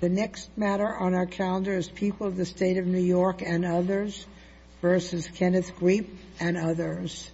The next matter on our calendar is People of the State of New York and Others versus Kenneth Griep and Others.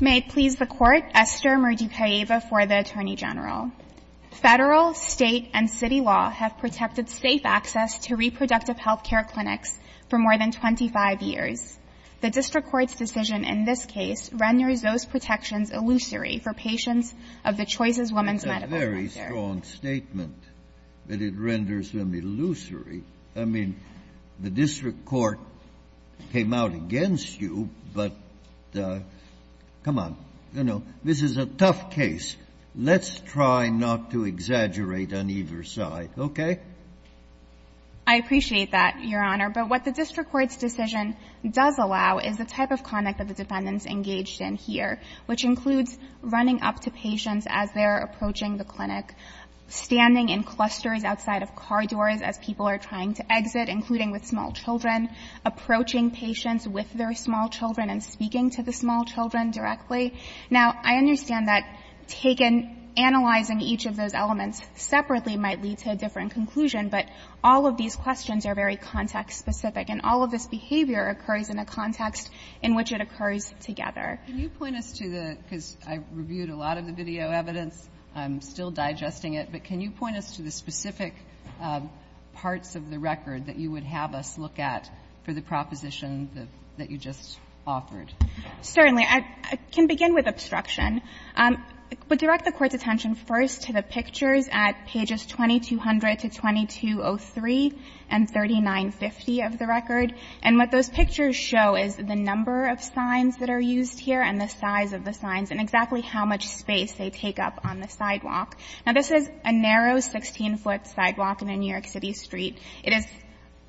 May it please the Court, Esther Murdykaeva for the Attorney General. Federal, State, and City law have protected safe access to reproductive health care clinics for more than 25 years. The district court's decision in this case renders those protections illusory for patients of the Choices Women's Medical Center. This is a very strong statement, that it renders them illusory. I mean, the district court came out against you, but come on, you know, this is a tough case. Let's try not to exaggerate on either side, okay? I appreciate that, Your Honor. But what the district court's decision does allow is the type of conduct that the defendants engaged in here, which includes running up to patients as they're approaching the clinic, standing in clusters outside of car doors as people are trying to exit, including with small children, approaching patients with their small children, and speaking to the small children directly. Now, I understand that taken analyzing each of those elements separately might lead to a different conclusion, but all of these questions are very context-specific, and all of this behavior occurs in a context in which it occurs together. Kagan, can you point us to the, because I've reviewed a lot of the video evidence, I'm still digesting it, but can you point us to the specific parts of the record that you would have us look at for the proposition that you just offered? Certainly. I can begin with obstruction. But direct the Court's attention first to the pictures at pages 2200 to 2203 and 3950 of the record, and what those pictures show is the number of signs that are used here and the size of the signs and exactly how much space they take up on the sidewalk. Now, this is a narrow 16-foot sidewalk in a New York City street. It is,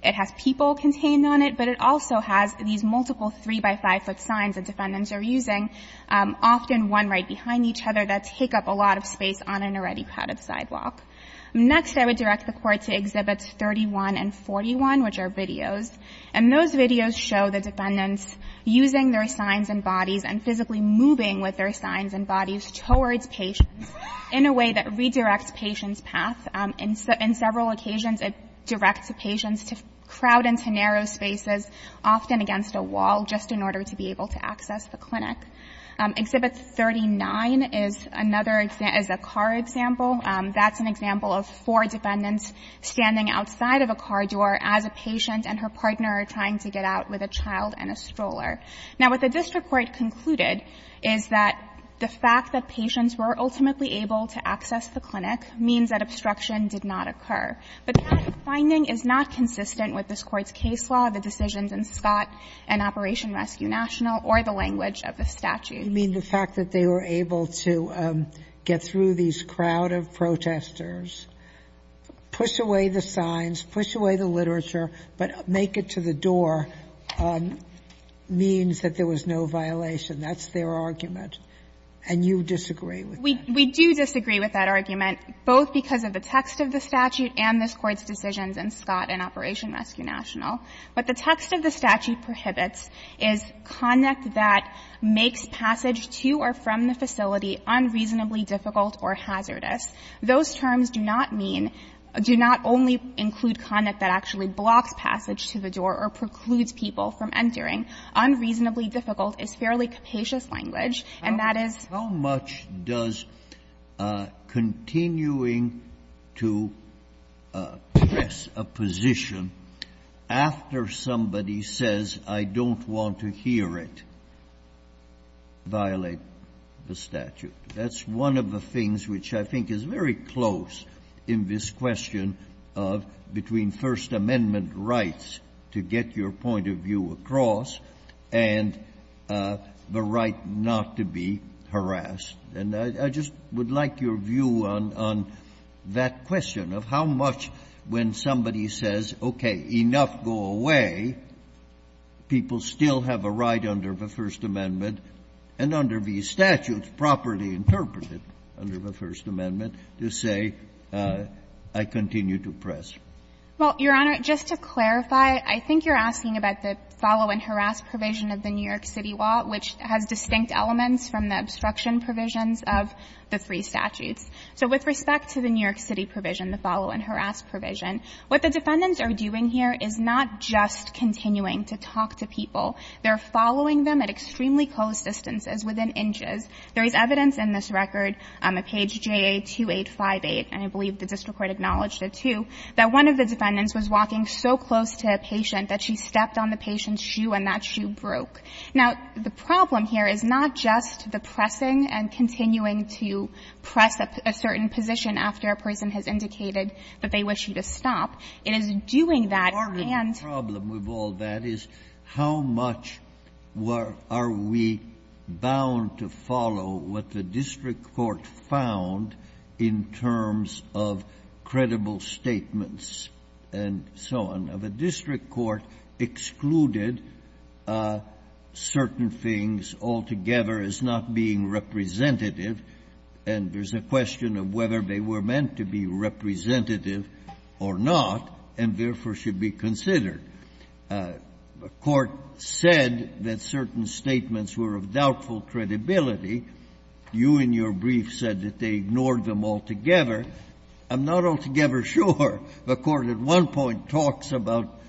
it has people contained on it, but it also has these multiple 3-by-5-foot signs that defendants are using, often one right behind each other, that take up a lot of space on an already padded sidewalk. Next, I would direct the Court to Exhibits 31 and 41, which are videos, and those videos show the defendants using their signs and bodies and physically moving with their signs and bodies towards patients in a way that redirects patients' path. In several occasions, it directs patients to crowd into narrow spaces, often against a wall, just in order to be able to access the clinic. Exhibit 39 is another, is a car example. That's an example of four defendants standing outside of a car door as a patient and her partner are trying to get out with a child and a stroller. Now, what the district court concluded is that the fact that patients were ultimately able to access the clinic means that obstruction did not occur. But that finding is not consistent with this Court's case law, the decisions in Scott and Operation Rescue National, or the language of the statute. Sotomayor, you mean the fact that they were able to get through these crowd of protesters, push away the signs, push away the literature, but make it to the door means that there was no violation. That's their argument, and you disagree with that? We do disagree with that argument, both because of the text of the statute and this Court's decisions in Scott and Operation Rescue National. But the text of the statute prohibits is conduct that makes passage to or from the facility unreasonably difficult or hazardous. Those terms do not mean, do not only include conduct that actually blocks passage to the door or precludes people from entering. Unreasonably difficult is fairly capacious language, and that is. How much does continuing to press a position after somebody says, I don't want to hear it, violate the statute? That's one of the things which I think is very close in this question of between rights to get your point of view across and the right not to be harassed. And I just would like your view on that question of how much, when somebody says, okay, enough, go away, people still have a right under the First Amendment and under these statutes properly interpreted under the First Amendment to say, I continue to press. Well, Your Honor, just to clarify, I think you're asking about the follow-and-harass provision of the New York City law, which has distinct elements from the obstruction provisions of the three statutes. So with respect to the New York City provision, the follow-and-harass provision, what the defendants are doing here is not just continuing to talk to people. They're following them at extremely close distances, within inches. There is evidence in this record on page JA-2858, and I believe the district court acknowledged it, too, that one of the defendants was walking so close to a patient that she stepped on the patient's shoe and that shoe broke. Now, the problem here is not just the pressing and continuing to press a certain position after a person has indicated that they wish you to stop. It is doing that and the problem with all that is how much are we bound to follow what the district court found in terms of credible statements and so on? Now, the district court excluded certain things altogether as not being representative, and there's a question of whether they were meant to be representative or not, and therefore should be considered. The court said that certain statements were of doubtful credibility. You, in your brief, said that they ignored them altogether. I'm not altogether sure. The court at one point talks about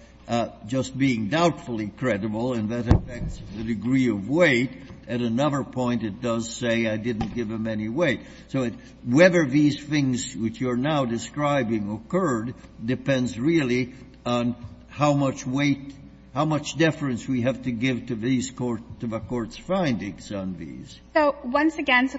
just being doubtfully credible, and that affects the degree of weight. At another point, it does say I didn't give them any weight. So whether these things which you're now describing occurred depends really on how much weight, how much deference we have to give to these courts, to the court's findings on these. So once again, to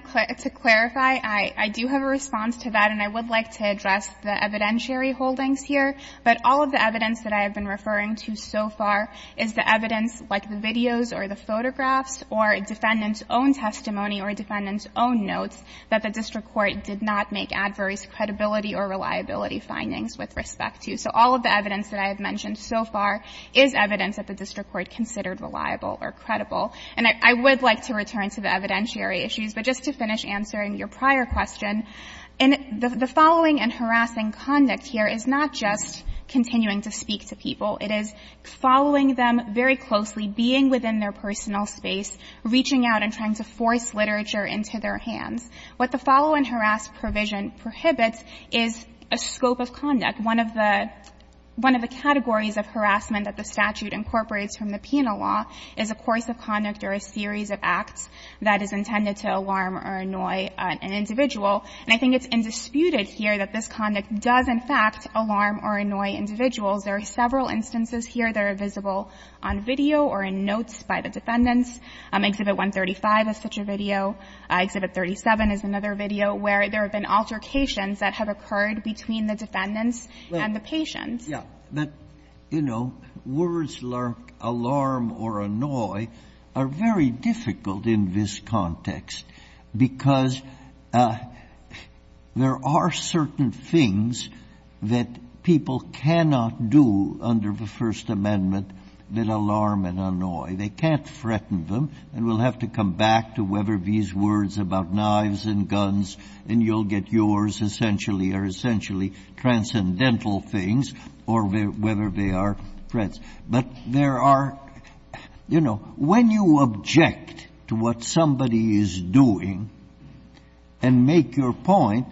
clarify, I do have a response to that, and I would like to address the evidentiary holdings here. But all of the evidence that I have been referring to so far is the evidence like the videos or the photographs or defendant's own testimony or defendant's own notes that the district court did not make adverse credibility or reliability findings with respect to. So all of the evidence that I have mentioned so far is evidence that the district court considered reliable or credible. And I would like to return to the evidentiary issues, but just to finish answering your prior question, the following and harassing conduct here is not just continuing to speak to people. It is following them very closely, being within their personal space, reaching out and trying to force literature into their hands. What the follow and harass provision prohibits is a scope of conduct. One of the categories of harassment that the statute incorporates from the penal law is a course of conduct or a series of acts that is intended to alarm or annoy an individual. And I think it's indisputed here that this conduct does, in fact, alarm or annoy individuals. There are several instances here that are visible on video or in notes by the defendants. Exhibit 135 is such a video. Exhibit 37 is another video where there have been altercations that have occurred between the defendants and the patient. Roberts. Yeah. But, you know, words like alarm or annoy are very difficult in this context, because there are certain things that people cannot do under the First Amendment that alarm and annoy. They can't threaten them. And we'll have to come back to Weber v.s. Edwards about knives and guns, and you'll get yours, essentially, or essentially transcendental things, or whether they are threats. But there are, you know, when you object to what somebody is doing and make your point,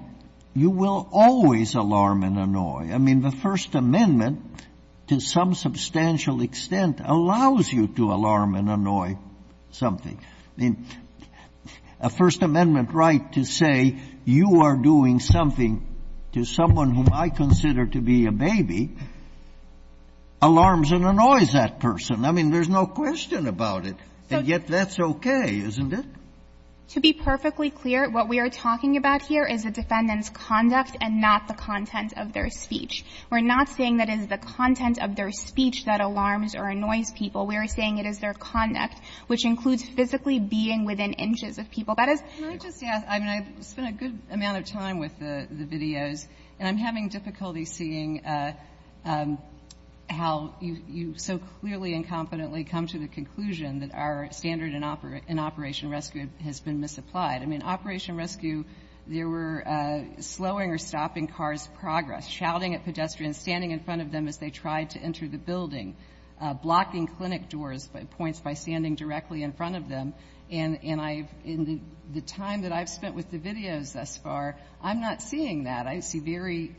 you will always alarm and annoy. I mean, the First Amendment, to some substantial extent, allows you to alarm and annoy something. I mean, a First Amendment right to say you are doing something to someone whom I consider to be a baby alarms and annoys that person. I mean, there's no question about it. And yet that's okay, isn't it? To be perfectly clear, what we are talking about here is the defendant's conduct and not the content of their speech. We're not saying that it is the content of their speech that alarms or annoys people. We are saying it is their conduct, which includes physically being within inches of people. Kagan. Kagan. I mean, I've spent a good amount of time with the videos, and I'm having difficulty seeing how you so clearly and confidently come to the conclusion that our standard in Operation Rescue has been misapplied. I mean, Operation Rescue, they were slowing or stopping cars' progress, shouting at pedestrians, standing in front of them as they tried to enter the building, blocking clinic doors by points by standing directly in front of them. And the time that I've spent with the videos thus far, I'm not seeing that. I see very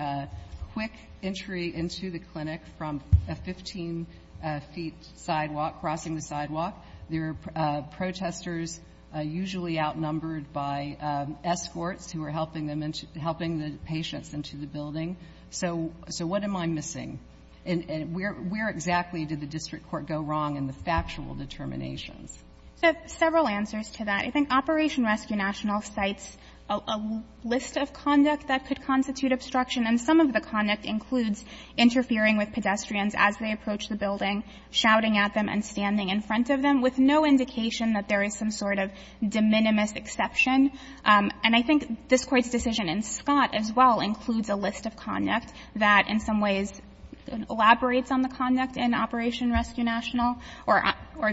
quick entry into the clinic from a 15-feet sidewalk, crossing the sidewalk. There are protesters usually outnumbered by escorts who are helping the patients So what am I missing? And where exactly did the district court go wrong in the factual determinations? So several answers to that. I think Operation Rescue National cites a list of conduct that could constitute obstruction, and some of the conduct includes interfering with pedestrians as they approach the building, shouting at them and standing in front of them, with no indication that there is some sort of de minimis exception. And I think this Court's decision in Scott as well includes a list of conduct that in some ways elaborates on the conduct in Operation Rescue National or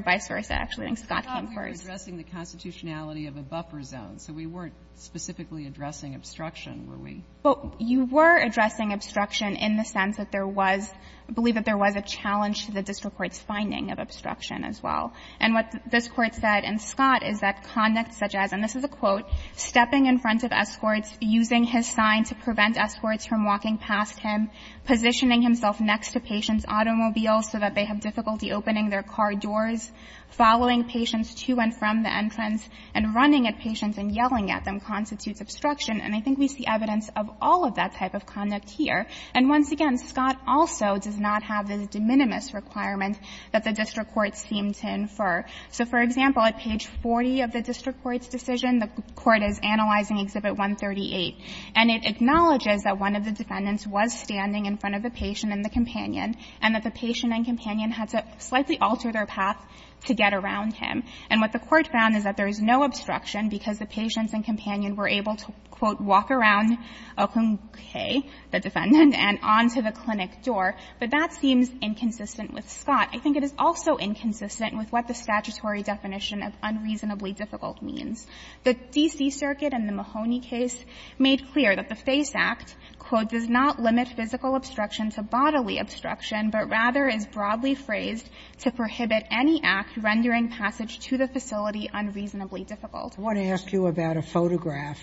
vice versa. Actually, I think Scott came first. But we thought we were addressing the constitutionality of a buffer zone, so we weren't specifically addressing obstruction, were we? Well, you were addressing obstruction in the sense that there was, I believe that there was a challenge to the district court's finding of obstruction as well. And what this Court said in Scott is that conduct such as, and this is a quote, stepping in front of escorts, using his sign to prevent escorts from walking past him, positioning himself next to patients' automobiles so that they have difficulty opening their car doors, following patients to and from the entrance, and running at patients and yelling at them constitutes obstruction. And I think we see evidence of all of that type of conduct here. And once again, Scott also does not have the de minimis requirement that the district court seemed to infer. So for example, at page 40 of the district court's decision, the court is analyzing Exhibit 138, and it acknowledges that one of the defendants was standing in front of the patient and the companion, and that the patient and companion had to slightly alter their path to get around him. And what the court found is that there is no obstruction because the patients and companion were able to, quote, walk around, okay, the defendant, and on to the clinic door. But that seems inconsistent with Scott. I think it is also inconsistent with what the statutory definition of unreasonably difficult means. The D.C. Circuit in the Mahoney case made clear that the FACE Act, quote, does not limit physical obstruction to bodily obstruction, but rather is broadly phrased to prohibit any act rendering passage to the facility unreasonably difficult. Sotomayor, I want to ask you about a photograph,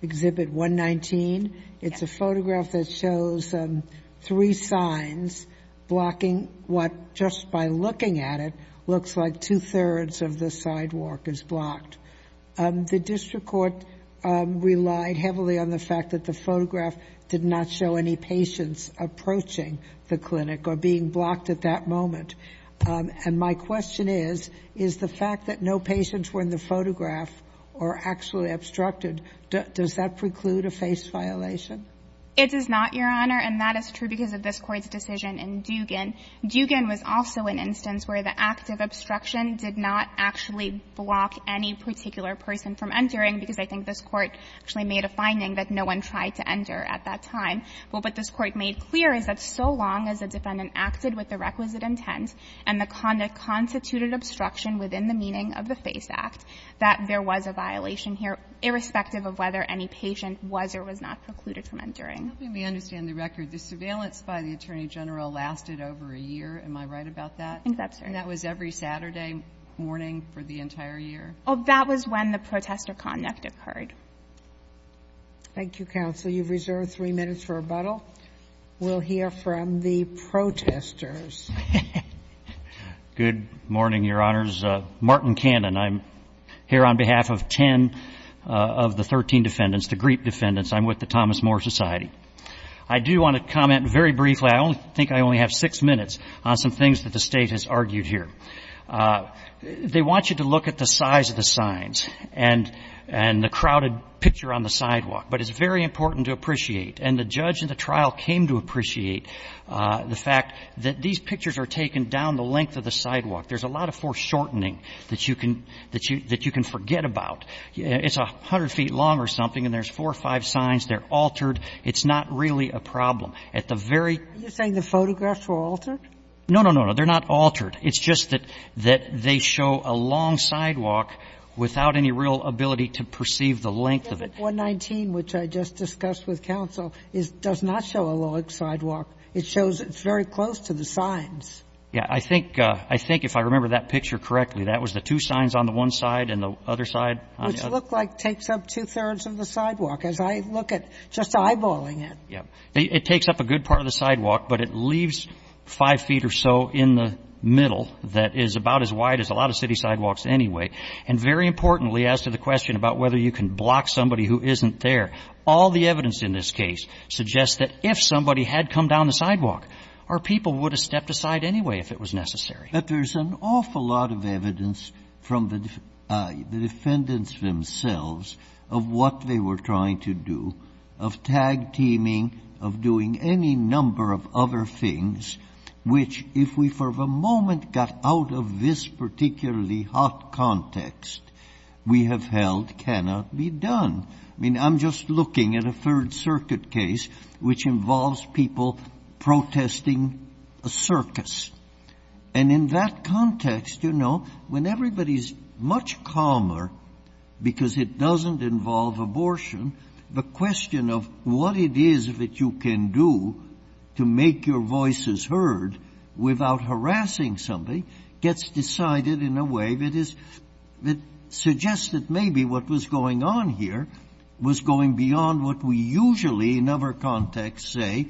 Exhibit 119. It's a photograph that shows three signs blocking what, just by looking at it, looks like two-thirds of the sidewalk is blocked. The district court relied heavily on the fact that the photograph did not show any patients approaching the clinic or being blocked at that moment. And my question is, is the fact that no patients were in the photograph or actually obstructed, does that preclude a FACE violation? It does not, Your Honor, and that is true because of this Court's decision in Dugan. Dugan was also an instance where the act of obstruction did not actually block any particular person from entering, because I think this Court actually made a finding that no one tried to enter at that time. But what this Court made clear is that so long as the defendant acted with the requisite intent and the conduct constituted obstruction within the meaning of the FACE Act, that there was a violation here, irrespective of whether any patient was or was not precluded from entering. Let me understand the record. The surveillance by the Attorney General lasted over a year. Am I right about that? I think that's right. And that was every Saturday morning for the entire year? Oh, that was when the protester conduct occurred. Thank you, counsel. You've reserved three minutes for rebuttal. We'll hear from the protesters. Good morning, Your Honors. Martin Cannon. I'm here on behalf of 10 of the 13 defendants, the GRIP defendants. I'm with the Thomas More Society. I do want to comment very briefly. I think I only have six minutes on some things that the State has argued here. They want you to look at the size of the signs and the crowded picture on the sidewalk. But it's very important to appreciate, and the judge in the trial came to appreciate the fact that these pictures are taken down the length of the sidewalk. There's a lot of foreshortening that you can forget about. It's 100 feet long or something, and there's four or five signs. They're altered. It's not really a problem. At the very You're saying the photographs were altered? No, no, no, no. They're not altered. It's just that they show a long sidewalk without any real ability to perceive the length of it. 119, which I just discussed with counsel, does not show a long sidewalk. It shows it's very close to the signs. Yeah. I think if I remember that picture correctly, that was the two signs on the one side and the other side. Which look like takes up two-thirds of the sidewalk, as I look at just eyeballing it. Yeah. It takes up a good part of the sidewalk, but it leaves five feet or so in the middle that is about as wide as a lot of city sidewalks anyway. And very importantly, as to the question about whether you can block somebody who isn't there, all the evidence in this case suggests that if somebody had come down the sidewalk, our people would have stepped aside anyway if it was necessary. But there's an awful lot of evidence from the defendants themselves of what they were trying to do, of tag-teaming, of doing any number of other things which, if we for a moment got out of this particularly hot context, we have held cannot be done. I mean, I'm just looking at a Third Circuit case which involves people protesting a circus. And in that context, you know, when everybody's much calmer, because it doesn't involve abortion, the question of what it is that you can do to make your voices heard without harassing somebody gets decided in a way that is — that suggests that maybe what was going on here was going beyond what we usually, in other contexts, say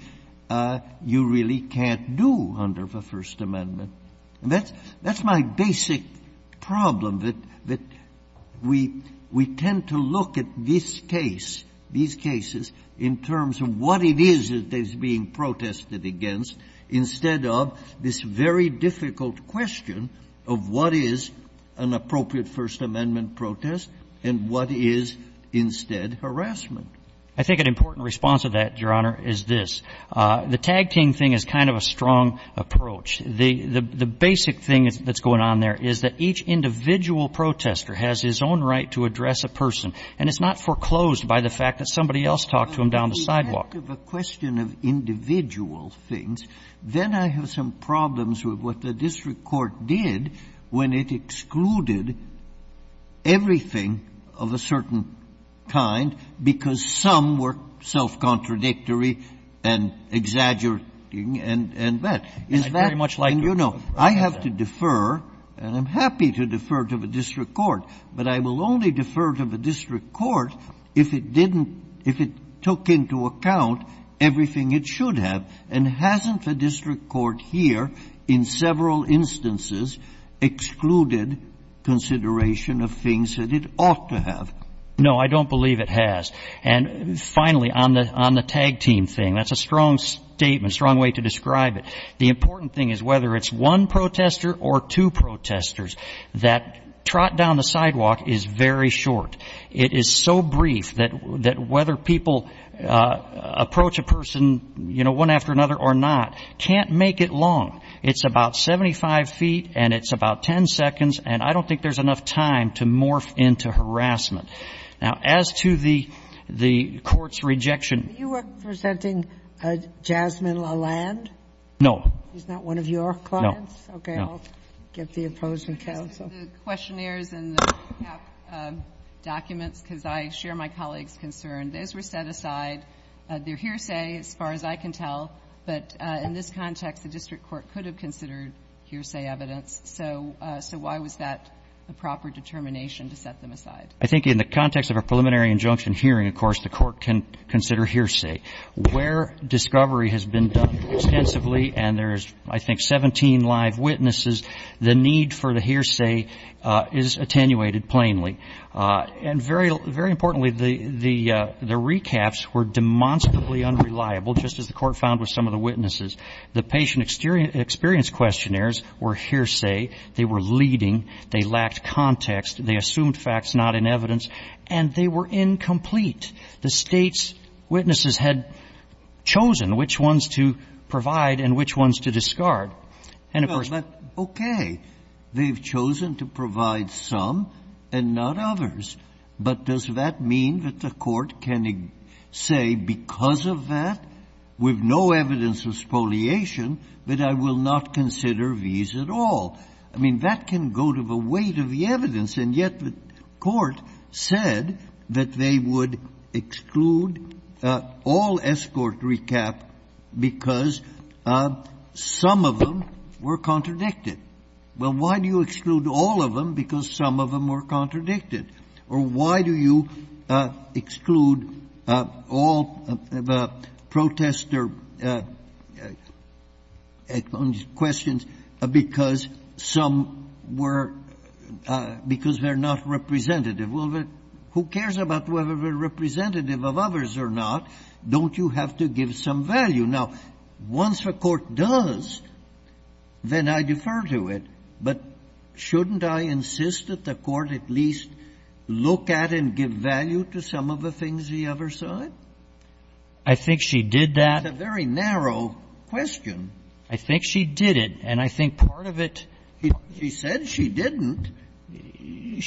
you really can't do under the First Amendment. And that's my basic problem, that we tend to look at this case, these cases, in terms of what it is that is being protested against, instead of this very difficult question of what is an appropriate First Amendment protest and what is instead harassment. I think an important response to that, Your Honor, is this. The tag-team thing is kind of a strong approach. The basic thing that's going on there is that each individual protester has his own right to address a person, and it's not foreclosed by the fact that somebody else talked to him down the sidewalk. But when we get to the question of individual things, then I have some problems with what the district court did when it excluded everything of a certain kind, because some were self-contradictory and exaggerating and that. Is that the thing you know? Very much like that. I have to defer, and I'm happy to defer to the district court, but I will only defer to the district court if it didn't, if it took into account everything it should have, and hasn't the district court here, in several instances, excluded consideration of things that it ought to have? No, I don't believe it has. And finally, on the tag-team thing, that's a strong statement, strong way to describe it. The important thing is whether it's one protester or two protesters, that trot down the sidewalk is very short. It is so brief that whether people approach a person, you know, one after another or not, can't make it long. It's about 75 feet, and it's about 10 seconds, and I don't think there's enough time to morph into harassment. Now, as to the court's rejection. Were you representing Jasmine Lalande? No. She's not one of your clients? No. Okay, I'll get the opposing counsel. The questionnaires and the documents, because I share my colleague's concern, those were set aside. They're hearsay, as far as I can tell, but in this context, the district court could have considered hearsay evidence. So why was that a proper determination to set them aside? I think in the context of a preliminary injunction hearing, of course, the court can consider Where discovery has been done extensively, and there's, I think, 17 live witnesses, the need for the hearsay is attenuated plainly. And very importantly, the recaps were demonstrably unreliable, just as the court found with some of the witnesses. The patient experience questionnaires were hearsay. They were leading. They lacked context. They assumed facts not in evidence, and they were incomplete. And if a person But, okay, they have chosen to provide some and not others. But does that mean that the court can say, because of that, with no evidence of spoliation, that I will not consider these at all? I mean, that can go to the weight of the evidence and yet the court said that they would exclude all escort recap because some of them were contradicted. Well, why do you exclude all of them because some of them were contradicted? Or why do you exclude all protester questions because some were — because they're not representative? Well, who cares about whether they're representative of others or not? Don't you have to give some value? Now, once the court does, then I defer to it. But shouldn't I insist that the court at least look at and give value to some of the things the other side? I think she did that. That's a very narrow question. I think she did it. And I think part of it — She said she didn't.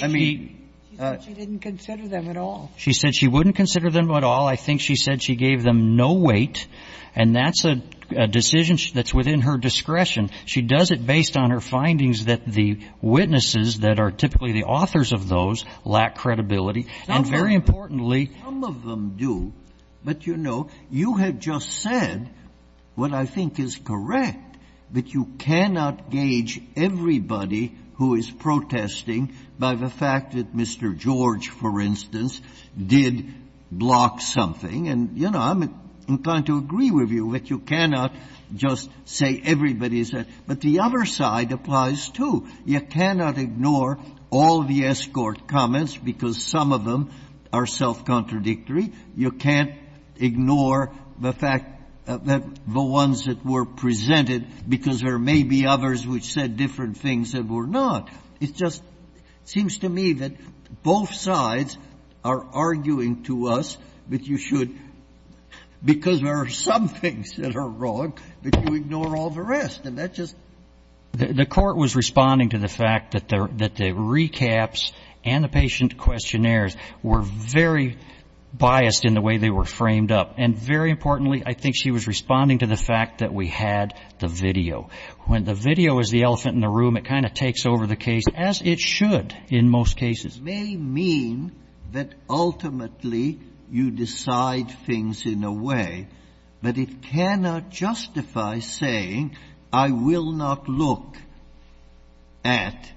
I mean — She said she didn't consider them at all. She said she wouldn't consider them at all. I think she said she gave them no weight. And that's a decision that's within her discretion. She does it based on her findings that the witnesses that are typically the authors of those lack credibility. And very importantly — Some of them do. But, you know, you have just said what I think is correct, but you cannot gauge everybody who is protesting by the fact that Mr. George, for instance, did block something. And, you know, I'm inclined to agree with you that you cannot just say everybody is — but the other side applies, too. You cannot ignore all the escort comments, because some of them are self-contradictory. You can't ignore the fact that the ones that were presented, because there may be others which said different things that were not. It just seems to me that both sides are arguing to us that you should — because there are some things that are wrong, that you ignore all the rest. And that just — The Court was responding to the fact that the recaps and the patient questionnaires were very biased in the way they were framed up. And very importantly, I think she was responding to the fact that we had the video. When the video is the elephant in the room, it kind of takes over the case, as it should in most cases. It may mean that ultimately you decide things in a way, but it cannot justify saying, I will not look at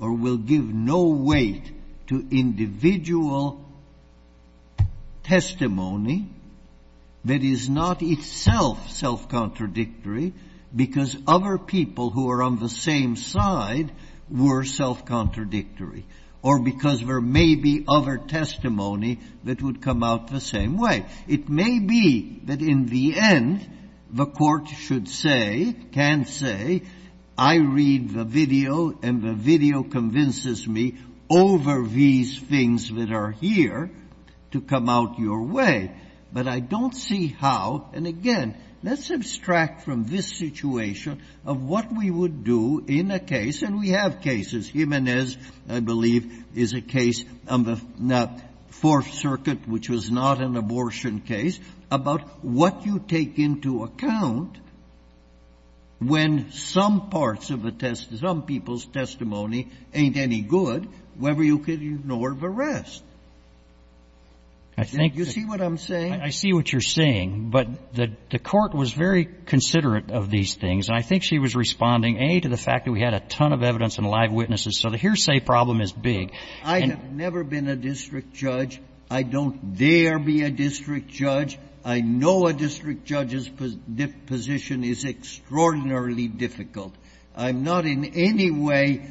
or will give no weight to individual testimony that is not itself self-contradictory, because other people who are on the same side were self-contradictory, or because there may be other testimony that would come out the same way. It may be that in the end, the Court should say, can say, I read the video and the video convinces me over these things that are here to come out your way. But I don't see how — and again, let's abstract from this situation of what we would do in a case — and we have cases. Jimenez, I believe, is a case on the Fourth Circuit, which was not an abortion case, about what you take into account when some parts of a testimony, some people's testimony ain't any good, whether you can ignore the rest. I think that — You see what I'm saying? I see what you're saying. But the Court was very considerate of these things, and I think she was responding, A, to the fact that we had a ton of evidence and live witnesses, so the hearsay problem is big. I have never been a district judge. I don't dare be a district judge. I know a district judge's position is extraordinarily difficult. I'm not in any way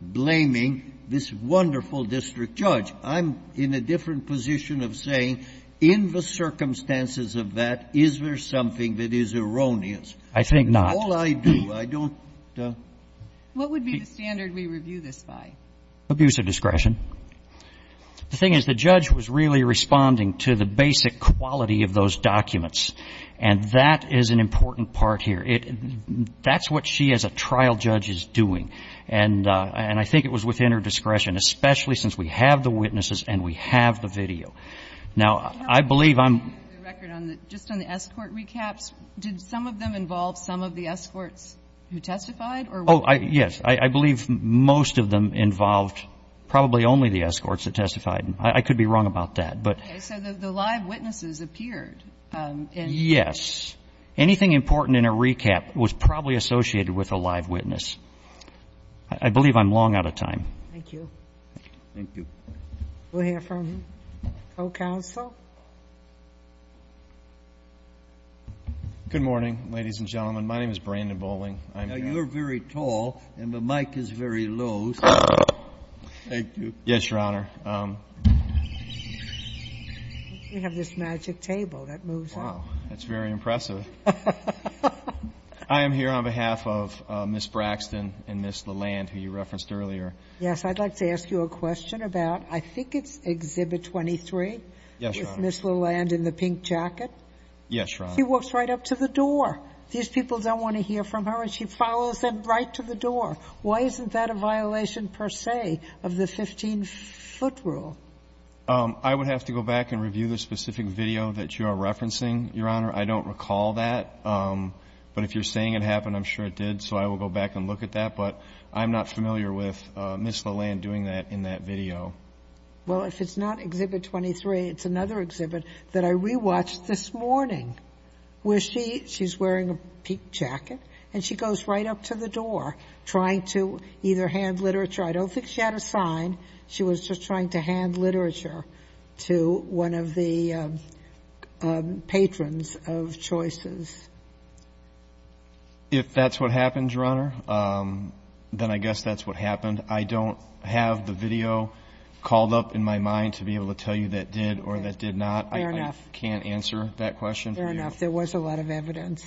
blaming this wonderful district judge. I'm in a different position of saying, in the circumstances of that, is there something that is erroneous? I think not. It's all I do. I don't — What would be the standard we review this by? Abuse of discretion. The thing is, the judge was really responding to the basic quality of those documents, and that is an important part here. That's what she, as a trial judge, is doing. And I think it was within her discretion, especially since we have the witnesses and we have the video. Now, I believe I'm — Just on the escort recaps, did some of them involve some of the escorts who testified? Oh, yes. I believe most of them involved probably only the escorts that testified. I could be wrong about that, but — Okay, so the live witnesses appeared in — Yes. Anything important in a recap was probably associated with a live witness. I believe I'm long out of time. Thank you. Thank you. We'll hear from co-counsel. Good morning, ladies and gentlemen. My name is Brandon Bowling. I'm — Now, you're very tall, and the mic is very low, so — Thank you. Yes, Your Honor. We have this magic table that moves out. That's very impressive. I am here on behalf of Ms. Braxton and Ms. Lalande, who you referenced earlier. Yes. I'd like to ask you a question about — I think it's Exhibit 23? Yes, Your Honor. With Ms. Lalande in the pink jacket? Yes, Your Honor. She walks right up to the door. These people don't want to hear from her, and she follows them right to the door. Why isn't that a violation, per se, of the 15-foot rule? I would have to go back and review the specific video that you are referencing, Your Honor. I don't recall that. But if you're saying it happened, I'm sure it did, so I will go back and look at that. But I'm not familiar with Ms. Lalande doing that in that video. Well, if it's not Exhibit 23, it's another exhibit that I rewatched this morning, where she — she's wearing a pink jacket, and she goes right up to the door, trying to either hand literature — I don't think she had a sign. She was just trying to hand literature to one of the patrons of Choices. If that's what happened, Your Honor, then I guess that's what happened. I don't have the video called up in my mind to be able to tell you that did or that did not. Fair enough. I can't answer that question for you. Fair enough. There was a lot of evidence.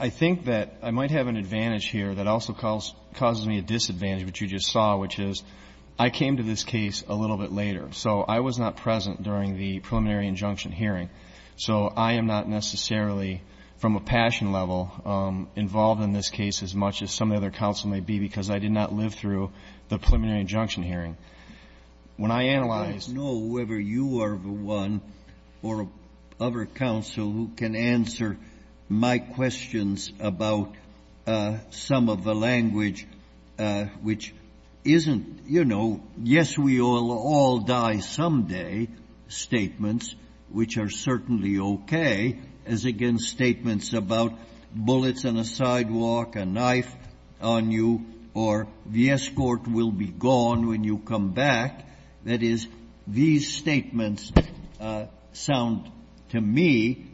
I think that I might have an advantage here that also causes me a disadvantage, which you just saw, which is I came to this case a little bit later. So I was not present during the preliminary injunction hearing. So I am not necessarily, from a passion level, involved in this case as much as some of the other counsel may be, because I did not live through the preliminary injunction hearing. When I analyzed — which isn't — you know, yes, we will all die someday statements, which are certainly okay, as against statements about bullets on a sidewalk, a knife on you, or the escort will be gone when you come back. That is, these statements sound to me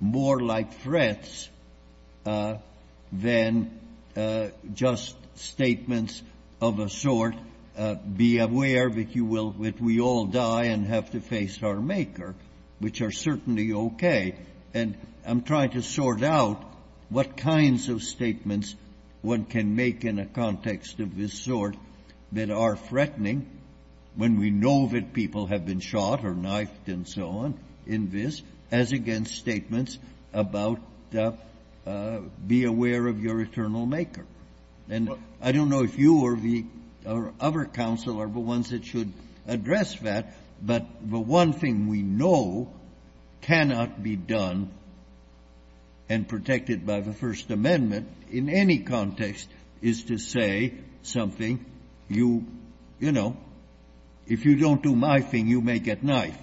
more like threats than just statements of a sort, be aware that you will — that we all die and have to face our maker, which are certainly okay. And I'm trying to sort out what kinds of statements one can make in a context of this sort that are threatening when we know that people have been shot or knifed and so on in this, as against statements about be aware of your eternal maker. And I don't know if you or the other counsel are the ones that should address that, but the one thing we know cannot be done and protected by the First Amendment in any context is to say something, you know, if you don't do my thing, you may get knifed,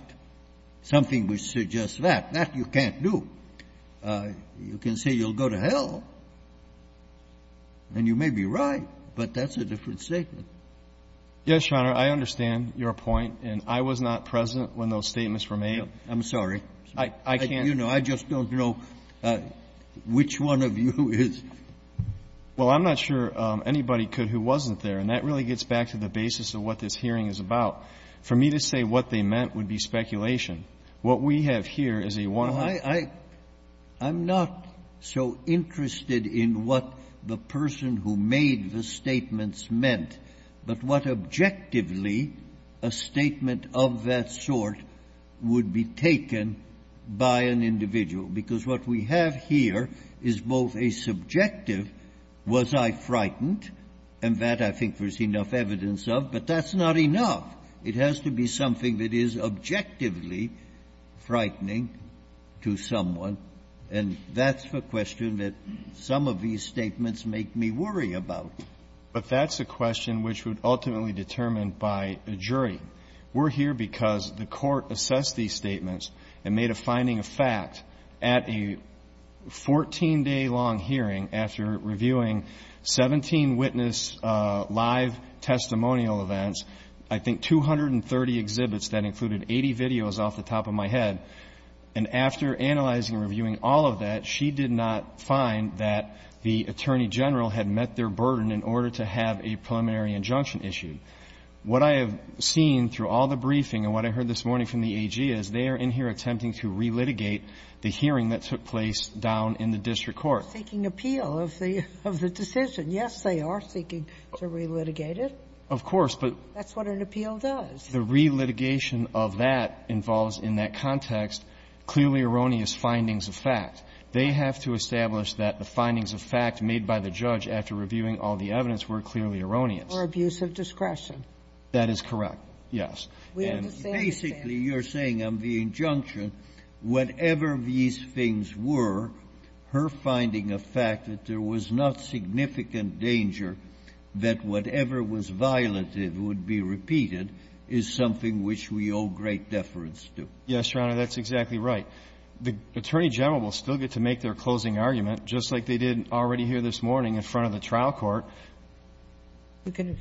something which suggests that. That you can't do. You can say you'll go to hell. And you may be right, but that's a different statement. Yes, Your Honor, I understand your point. And I was not present when those statements were made. I'm sorry. I can't — You know, I just don't know which one of you is — Well, I'm not sure anybody could who wasn't there. And that really gets back to the basis of what this hearing is about. For me to say what they meant would be speculation. What we have here is a one-off — No, I'm not so interested in what the person who made the statements meant, but what objectively a statement of that sort would be taken by an individual. Because what we have here is both a subjective, was I frightened, and that I think there's enough evidence of, but that's not enough. It has to be something that is objectively frightening to someone. And that's the question that some of these statements make me worry about. But that's a question which would ultimately be determined by a jury. We're here because the Court assessed these statements and made a finding of fact at a 14-day-long hearing after reviewing 17 witness live testimonial events, I think 230 exhibits. That included 80 videos off the top of my head. And after analyzing and reviewing all of that, she did not find that the attorney general had met their burden in order to have a preliminary injunction issue. What I have seen through all the briefing and what I heard this morning from the AG is they are in here attempting to relitigate the hearing that took place down in the district court. Seeking appeal of the decision. Yes, they are seeking to relitigate it. Of course. That's what an appeal does. The relitigation of that involves, in that context, clearly erroneous findings of fact. They have to establish that the findings of fact made by the judge after reviewing all the evidence were clearly erroneous. Or abuse of discretion. That is correct, yes. And basically, you're saying on the injunction, whatever these things were, her finding of fact that there was not significant danger that whatever was violated would be repeated is something which we owe great deference to. Yes, Your Honor. That's exactly right. The attorney general will still get to make their closing argument, just like they did already here this morning in front of the trial court. We can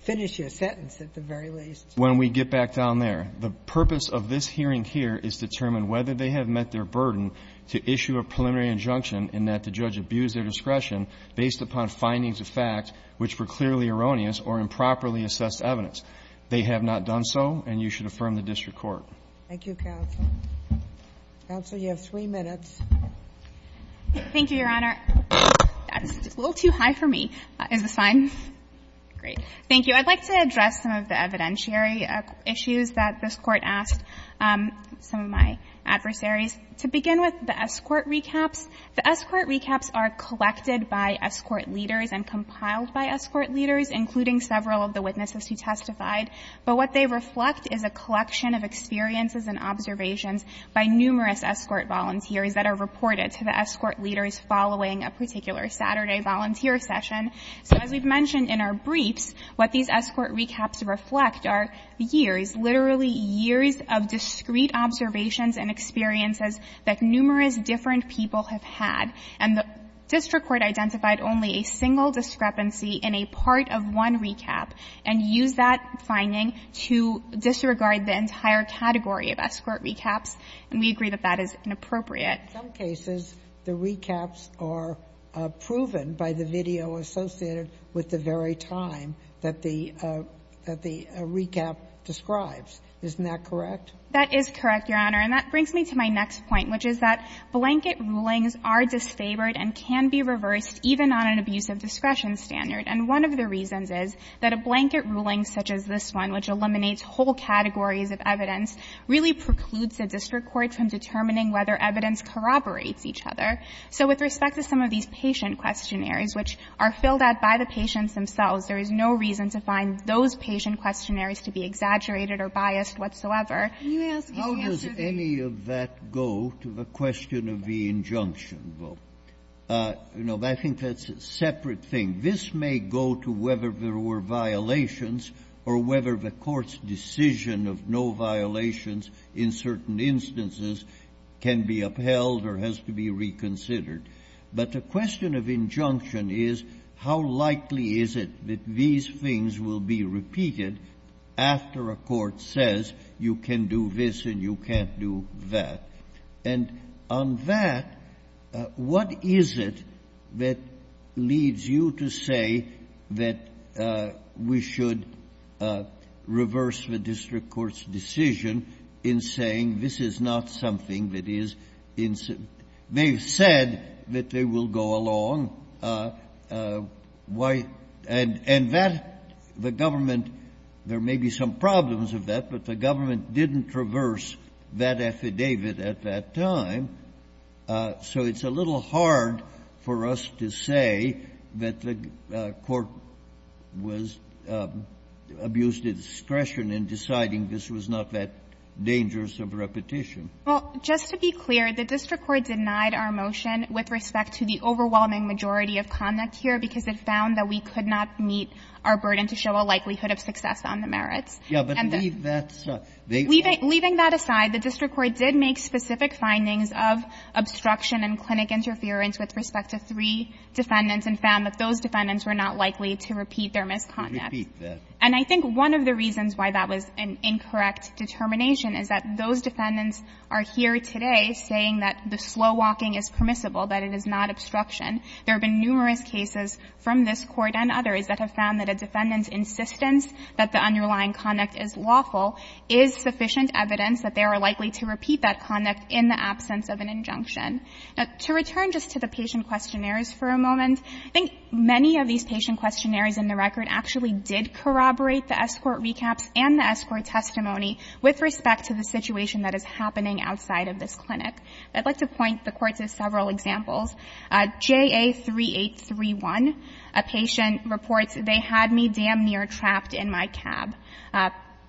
finish your sentence at the very least. When we get back down there. The purpose of this hearing here is to determine whether they have met their burden to issue a preliminary injunction in that the judge abused their discretion based upon findings of fact which were clearly erroneous or improperly assessed evidence. They have not done so, and you should affirm the district court. Thank you, counsel. Counsel, you have three minutes. Thank you, Your Honor. That's a little too high for me. Is this fine? Great. Thank you. I'd like to address some of the evidentiary issues that this Court asked some of my I'll start with the escort recaps. The escort recaps are collected by escort leaders and compiled by escort leaders, including several of the witnesses who testified. But what they reflect is a collection of experiences and observations by numerous escort volunteers that are reported to the escort leaders following a particular Saturday volunteer session. So as we've mentioned in our briefs, what these escort recaps reflect are years, literally years, of discrete observations and experiences that numerous different people have had. And the district court identified only a single discrepancy in a part of one recap and used that finding to disregard the entire category of escort recaps, and we agree that that is inappropriate. In some cases, the recaps are proven by the video associated with the very time that the recap describes. Isn't that correct? That is correct, Your Honor. And that brings me to my next point, which is that blanket rulings are disfavored and can be reversed even on an abuse of discretion standard. And one of the reasons is that a blanket ruling such as this one, which eliminates whole categories of evidence, really precludes the district court from determining whether evidence corroborates each other. So with respect to some of these patient questionnaires, which are filled out by the to find those patient questionnaires to be exaggerated or biased whatsoever. How does any of that go to the question of the injunction vote? You know, I think that's a separate thing. This may go to whether there were violations or whether the court's decision of no violations in certain instances can be upheld or has to be reconsidered. But the question of injunction is, how likely is it that these things will be repeated after a court says, you can do this and you can't do that? And on that, what is it that leads you to say that we should reverse the district court's decision in saying this is not something that is in — they've said that they will go along? Why — and that the government — there may be some problems of that, but the government didn't reverse that affidavit at that time. So it's a little hard for us to say that the court was — abused its discretion in deciding this was not that dangerous of a repetition. Well, just to be clear, the district court denied our motion with respect to the overwhelming majority of conduct here because it found that we could not meet our burden to show a likelihood of success on the merits. Yeah, but leave that aside. Leaving that aside, the district court did make specific findings of obstruction and clinic interference with respect to three defendants and found that those defendants were not likely to repeat their misconduct. And I think one of the reasons why that was an incorrect determination is that those defendants are here today saying that the slow walking is permissible, that it is not obstruction. There have been numerous cases from this Court and others that have found that a defendant's insistence that the underlying conduct is lawful is sufficient evidence that they are likely to repeat that conduct in the absence of an injunction. Now, to return just to the patient questionnaires for a moment, I think many of these patient questionnaires in the record actually did corroborate the escort recaps and the escort testimony with respect to the situation that is happening outside of this clinic. I'd like to point the Court to several examples. JA3831, a patient reports, they had me damn near trapped in my cab.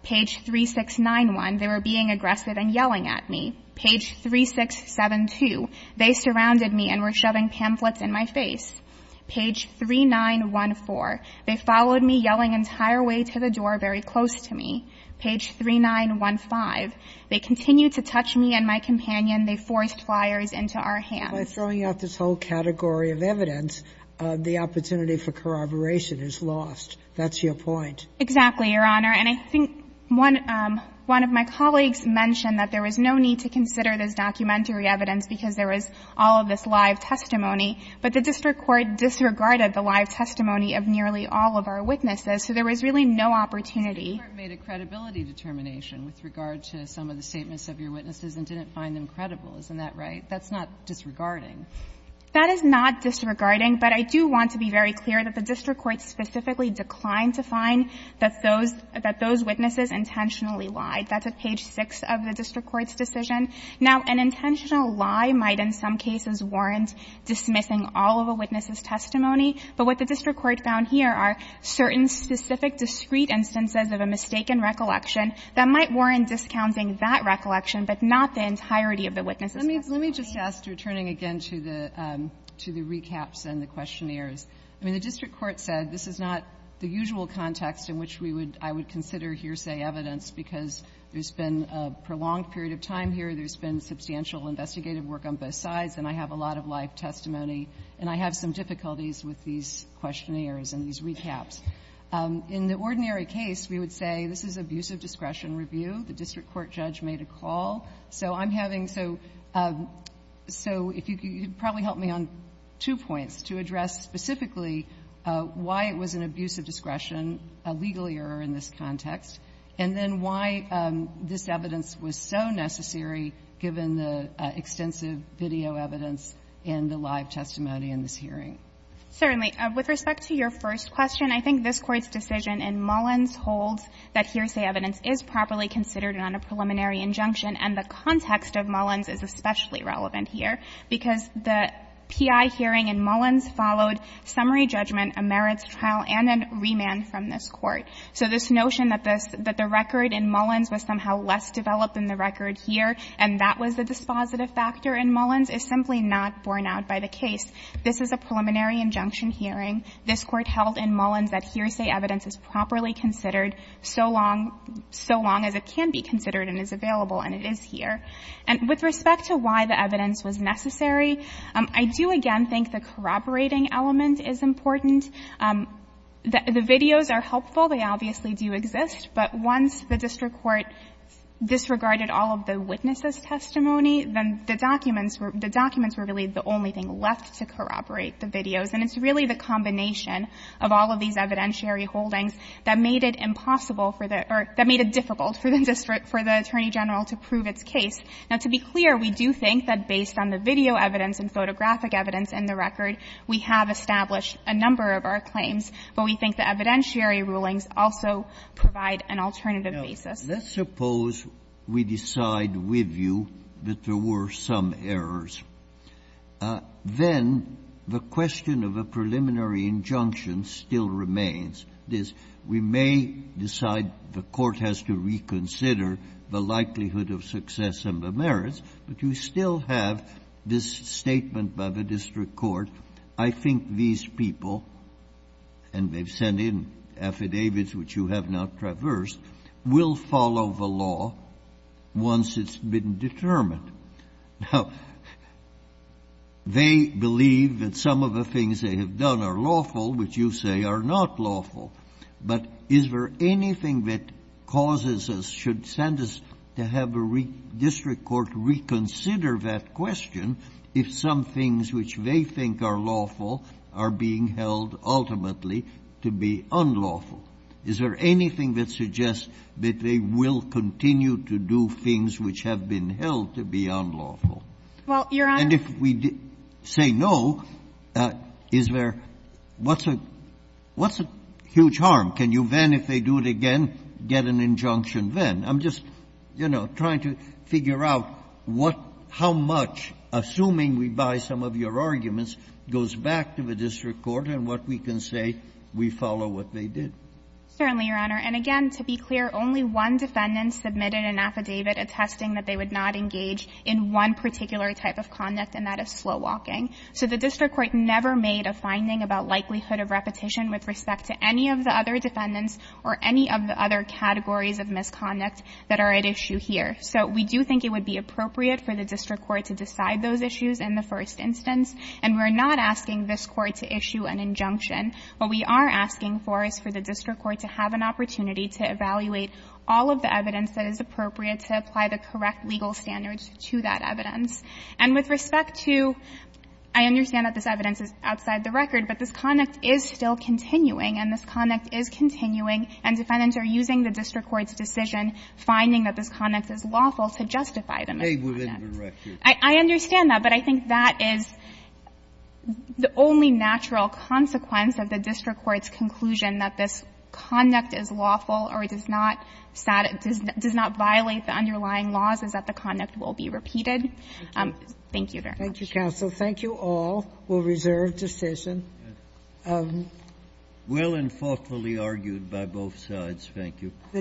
Page 3691, they were being aggressive and yelling at me. Page 3672, they surrounded me and were shoving pamphlets in my face. Page 3914, they followed me yelling entire way to the door very close to me. Page 3915, they continued to touch me and my companion. They forced flyers into our hands. Sotomayor By throwing out this whole category of evidence, the opportunity for corroboration is lost. That's your point. Exactly, Your Honor. And I think one of my colleagues mentioned that there was no need to consider this documentary evidence because there was all of this live testimony. But the district court disregarded the live testimony of nearly all of our witnesses, so there was really no opportunity. But the court made a credibility determination with regard to some of the statements of your witnesses and didn't find them credible. Isn't that right? That's not disregarding. That is not disregarding, but I do want to be very clear that the district court specifically declined to find that those – that those witnesses intentionally lied. That's at page 6 of the district court's decision. Now, an intentional lie might in some cases warrant dismissing all of a witness's testimony. But what the district court found here are certain specific discrete instances of a mistaken recollection that might warrant discounting that recollection, but not the entirety of the witness's testimony. Let me just ask, returning again to the – to the recaps and the questionnaires. I mean, the district court said this is not the usual context in which we would – I would consider hearsay evidence because there's been a prolonged period of time here, there's been substantial investigative work on both sides, and I have a lot of live testimony, and I have some difficulties with these questionnaires and these recaps. In the ordinary case, we would say this is abuse of discretion review. The district court judge made a call. So I'm having – so if you could probably help me on two points to address specifically why it was an abuse of discretion, a legal error in this context, and then why this evidence was so necessary given the extensive video evidence in the live testimony in this hearing. Certainly. With respect to your first question, I think this Court's decision in Mullins holds that hearsay evidence is properly considered on a preliminary injunction, and the context of Mullins is especially relevant here because the P.I. hearing in Mullins followed summary judgment, a merits trial, and a remand from this Court. So this notion that this – that the record in Mullins was somehow less developed than the record here, and that was the dispositive factor in Mullins is simply not borne out by the case. This is a preliminary injunction hearing. This Court held in Mullins that hearsay evidence is properly considered so long – so long as it can be considered and is available, and it is here. And with respect to why the evidence was necessary, I do again think the corroborating element is important. The videos are helpful. They obviously do exist, but once the district court disregarded all of the witnesses' testimony, then the documents were – the documents were really the only thing left to corroborate the videos, and it's really the combination of all of these evidentiary holdings that made it impossible for the – or that made it difficult for the district – for the Attorney General to prove its case. Now, to be clear, we do think that based on the video evidence and photographic evidence in the record, we have established a number of our claims, but we think the evidentiary rulings also provide an alternative basis. Roberts. Let's suppose we decide with you that there were some errors. Then the question of a preliminary injunction still remains. We may decide the Court has to reconsider the likelihood of success and the merits, but you still have this statement by the district court, I think these people, and they've sent in affidavits which you have now traversed, will follow the law once it's been determined. Now, they believe that some of the things they have done are lawful, which you say are not lawful. But is there anything that causes us, should send us to have a district court reconsider that question if some things which they think are lawful are being held ultimately to be unlawful? Is there anything that suggests that they will continue to do things which have been held to be unlawful? And if we say no, is there – what's a – what's a huge difference between I mean, that's a huge harm. Can you then, if they do it again, get an injunction then? I'm just, you know, trying to figure out what – how much, assuming we buy some of your arguments, goes back to the district court and what we can say we follow what they did. Certainly, Your Honor. And again, to be clear, only one defendant submitted an affidavit attesting that they would not engage in one particular type of conduct, and that is slow walking. So the district court never made a finding about likelihood of repetition with respect to any of the other defendants or any of the other categories of misconduct that are at issue here. So we do think it would be appropriate for the district court to decide those issues in the first instance. And we're not asking this Court to issue an injunction. What we are asking for is for the district court to have an opportunity to evaluate all of the evidence that is appropriate to apply the correct legal standards to that evidence. And with respect to – I understand that this evidence is outside the record, but this conduct is still continuing, and this conduct is continuing, and defendants are using the district court's decision, finding that this conduct is lawful, to justify the misconduct. And so we're asking for the district court to have an opportunity to make a final the underlying laws, and whether or not it's a violation of the district court's conclusion that this conduct is lawful or does not violate the underlying laws, is that the conduct will be repeated. Thank you very much. Thank you, counsel. Thank you all. We'll reserve decision. Will and faultfully argued by both sides. Thank you.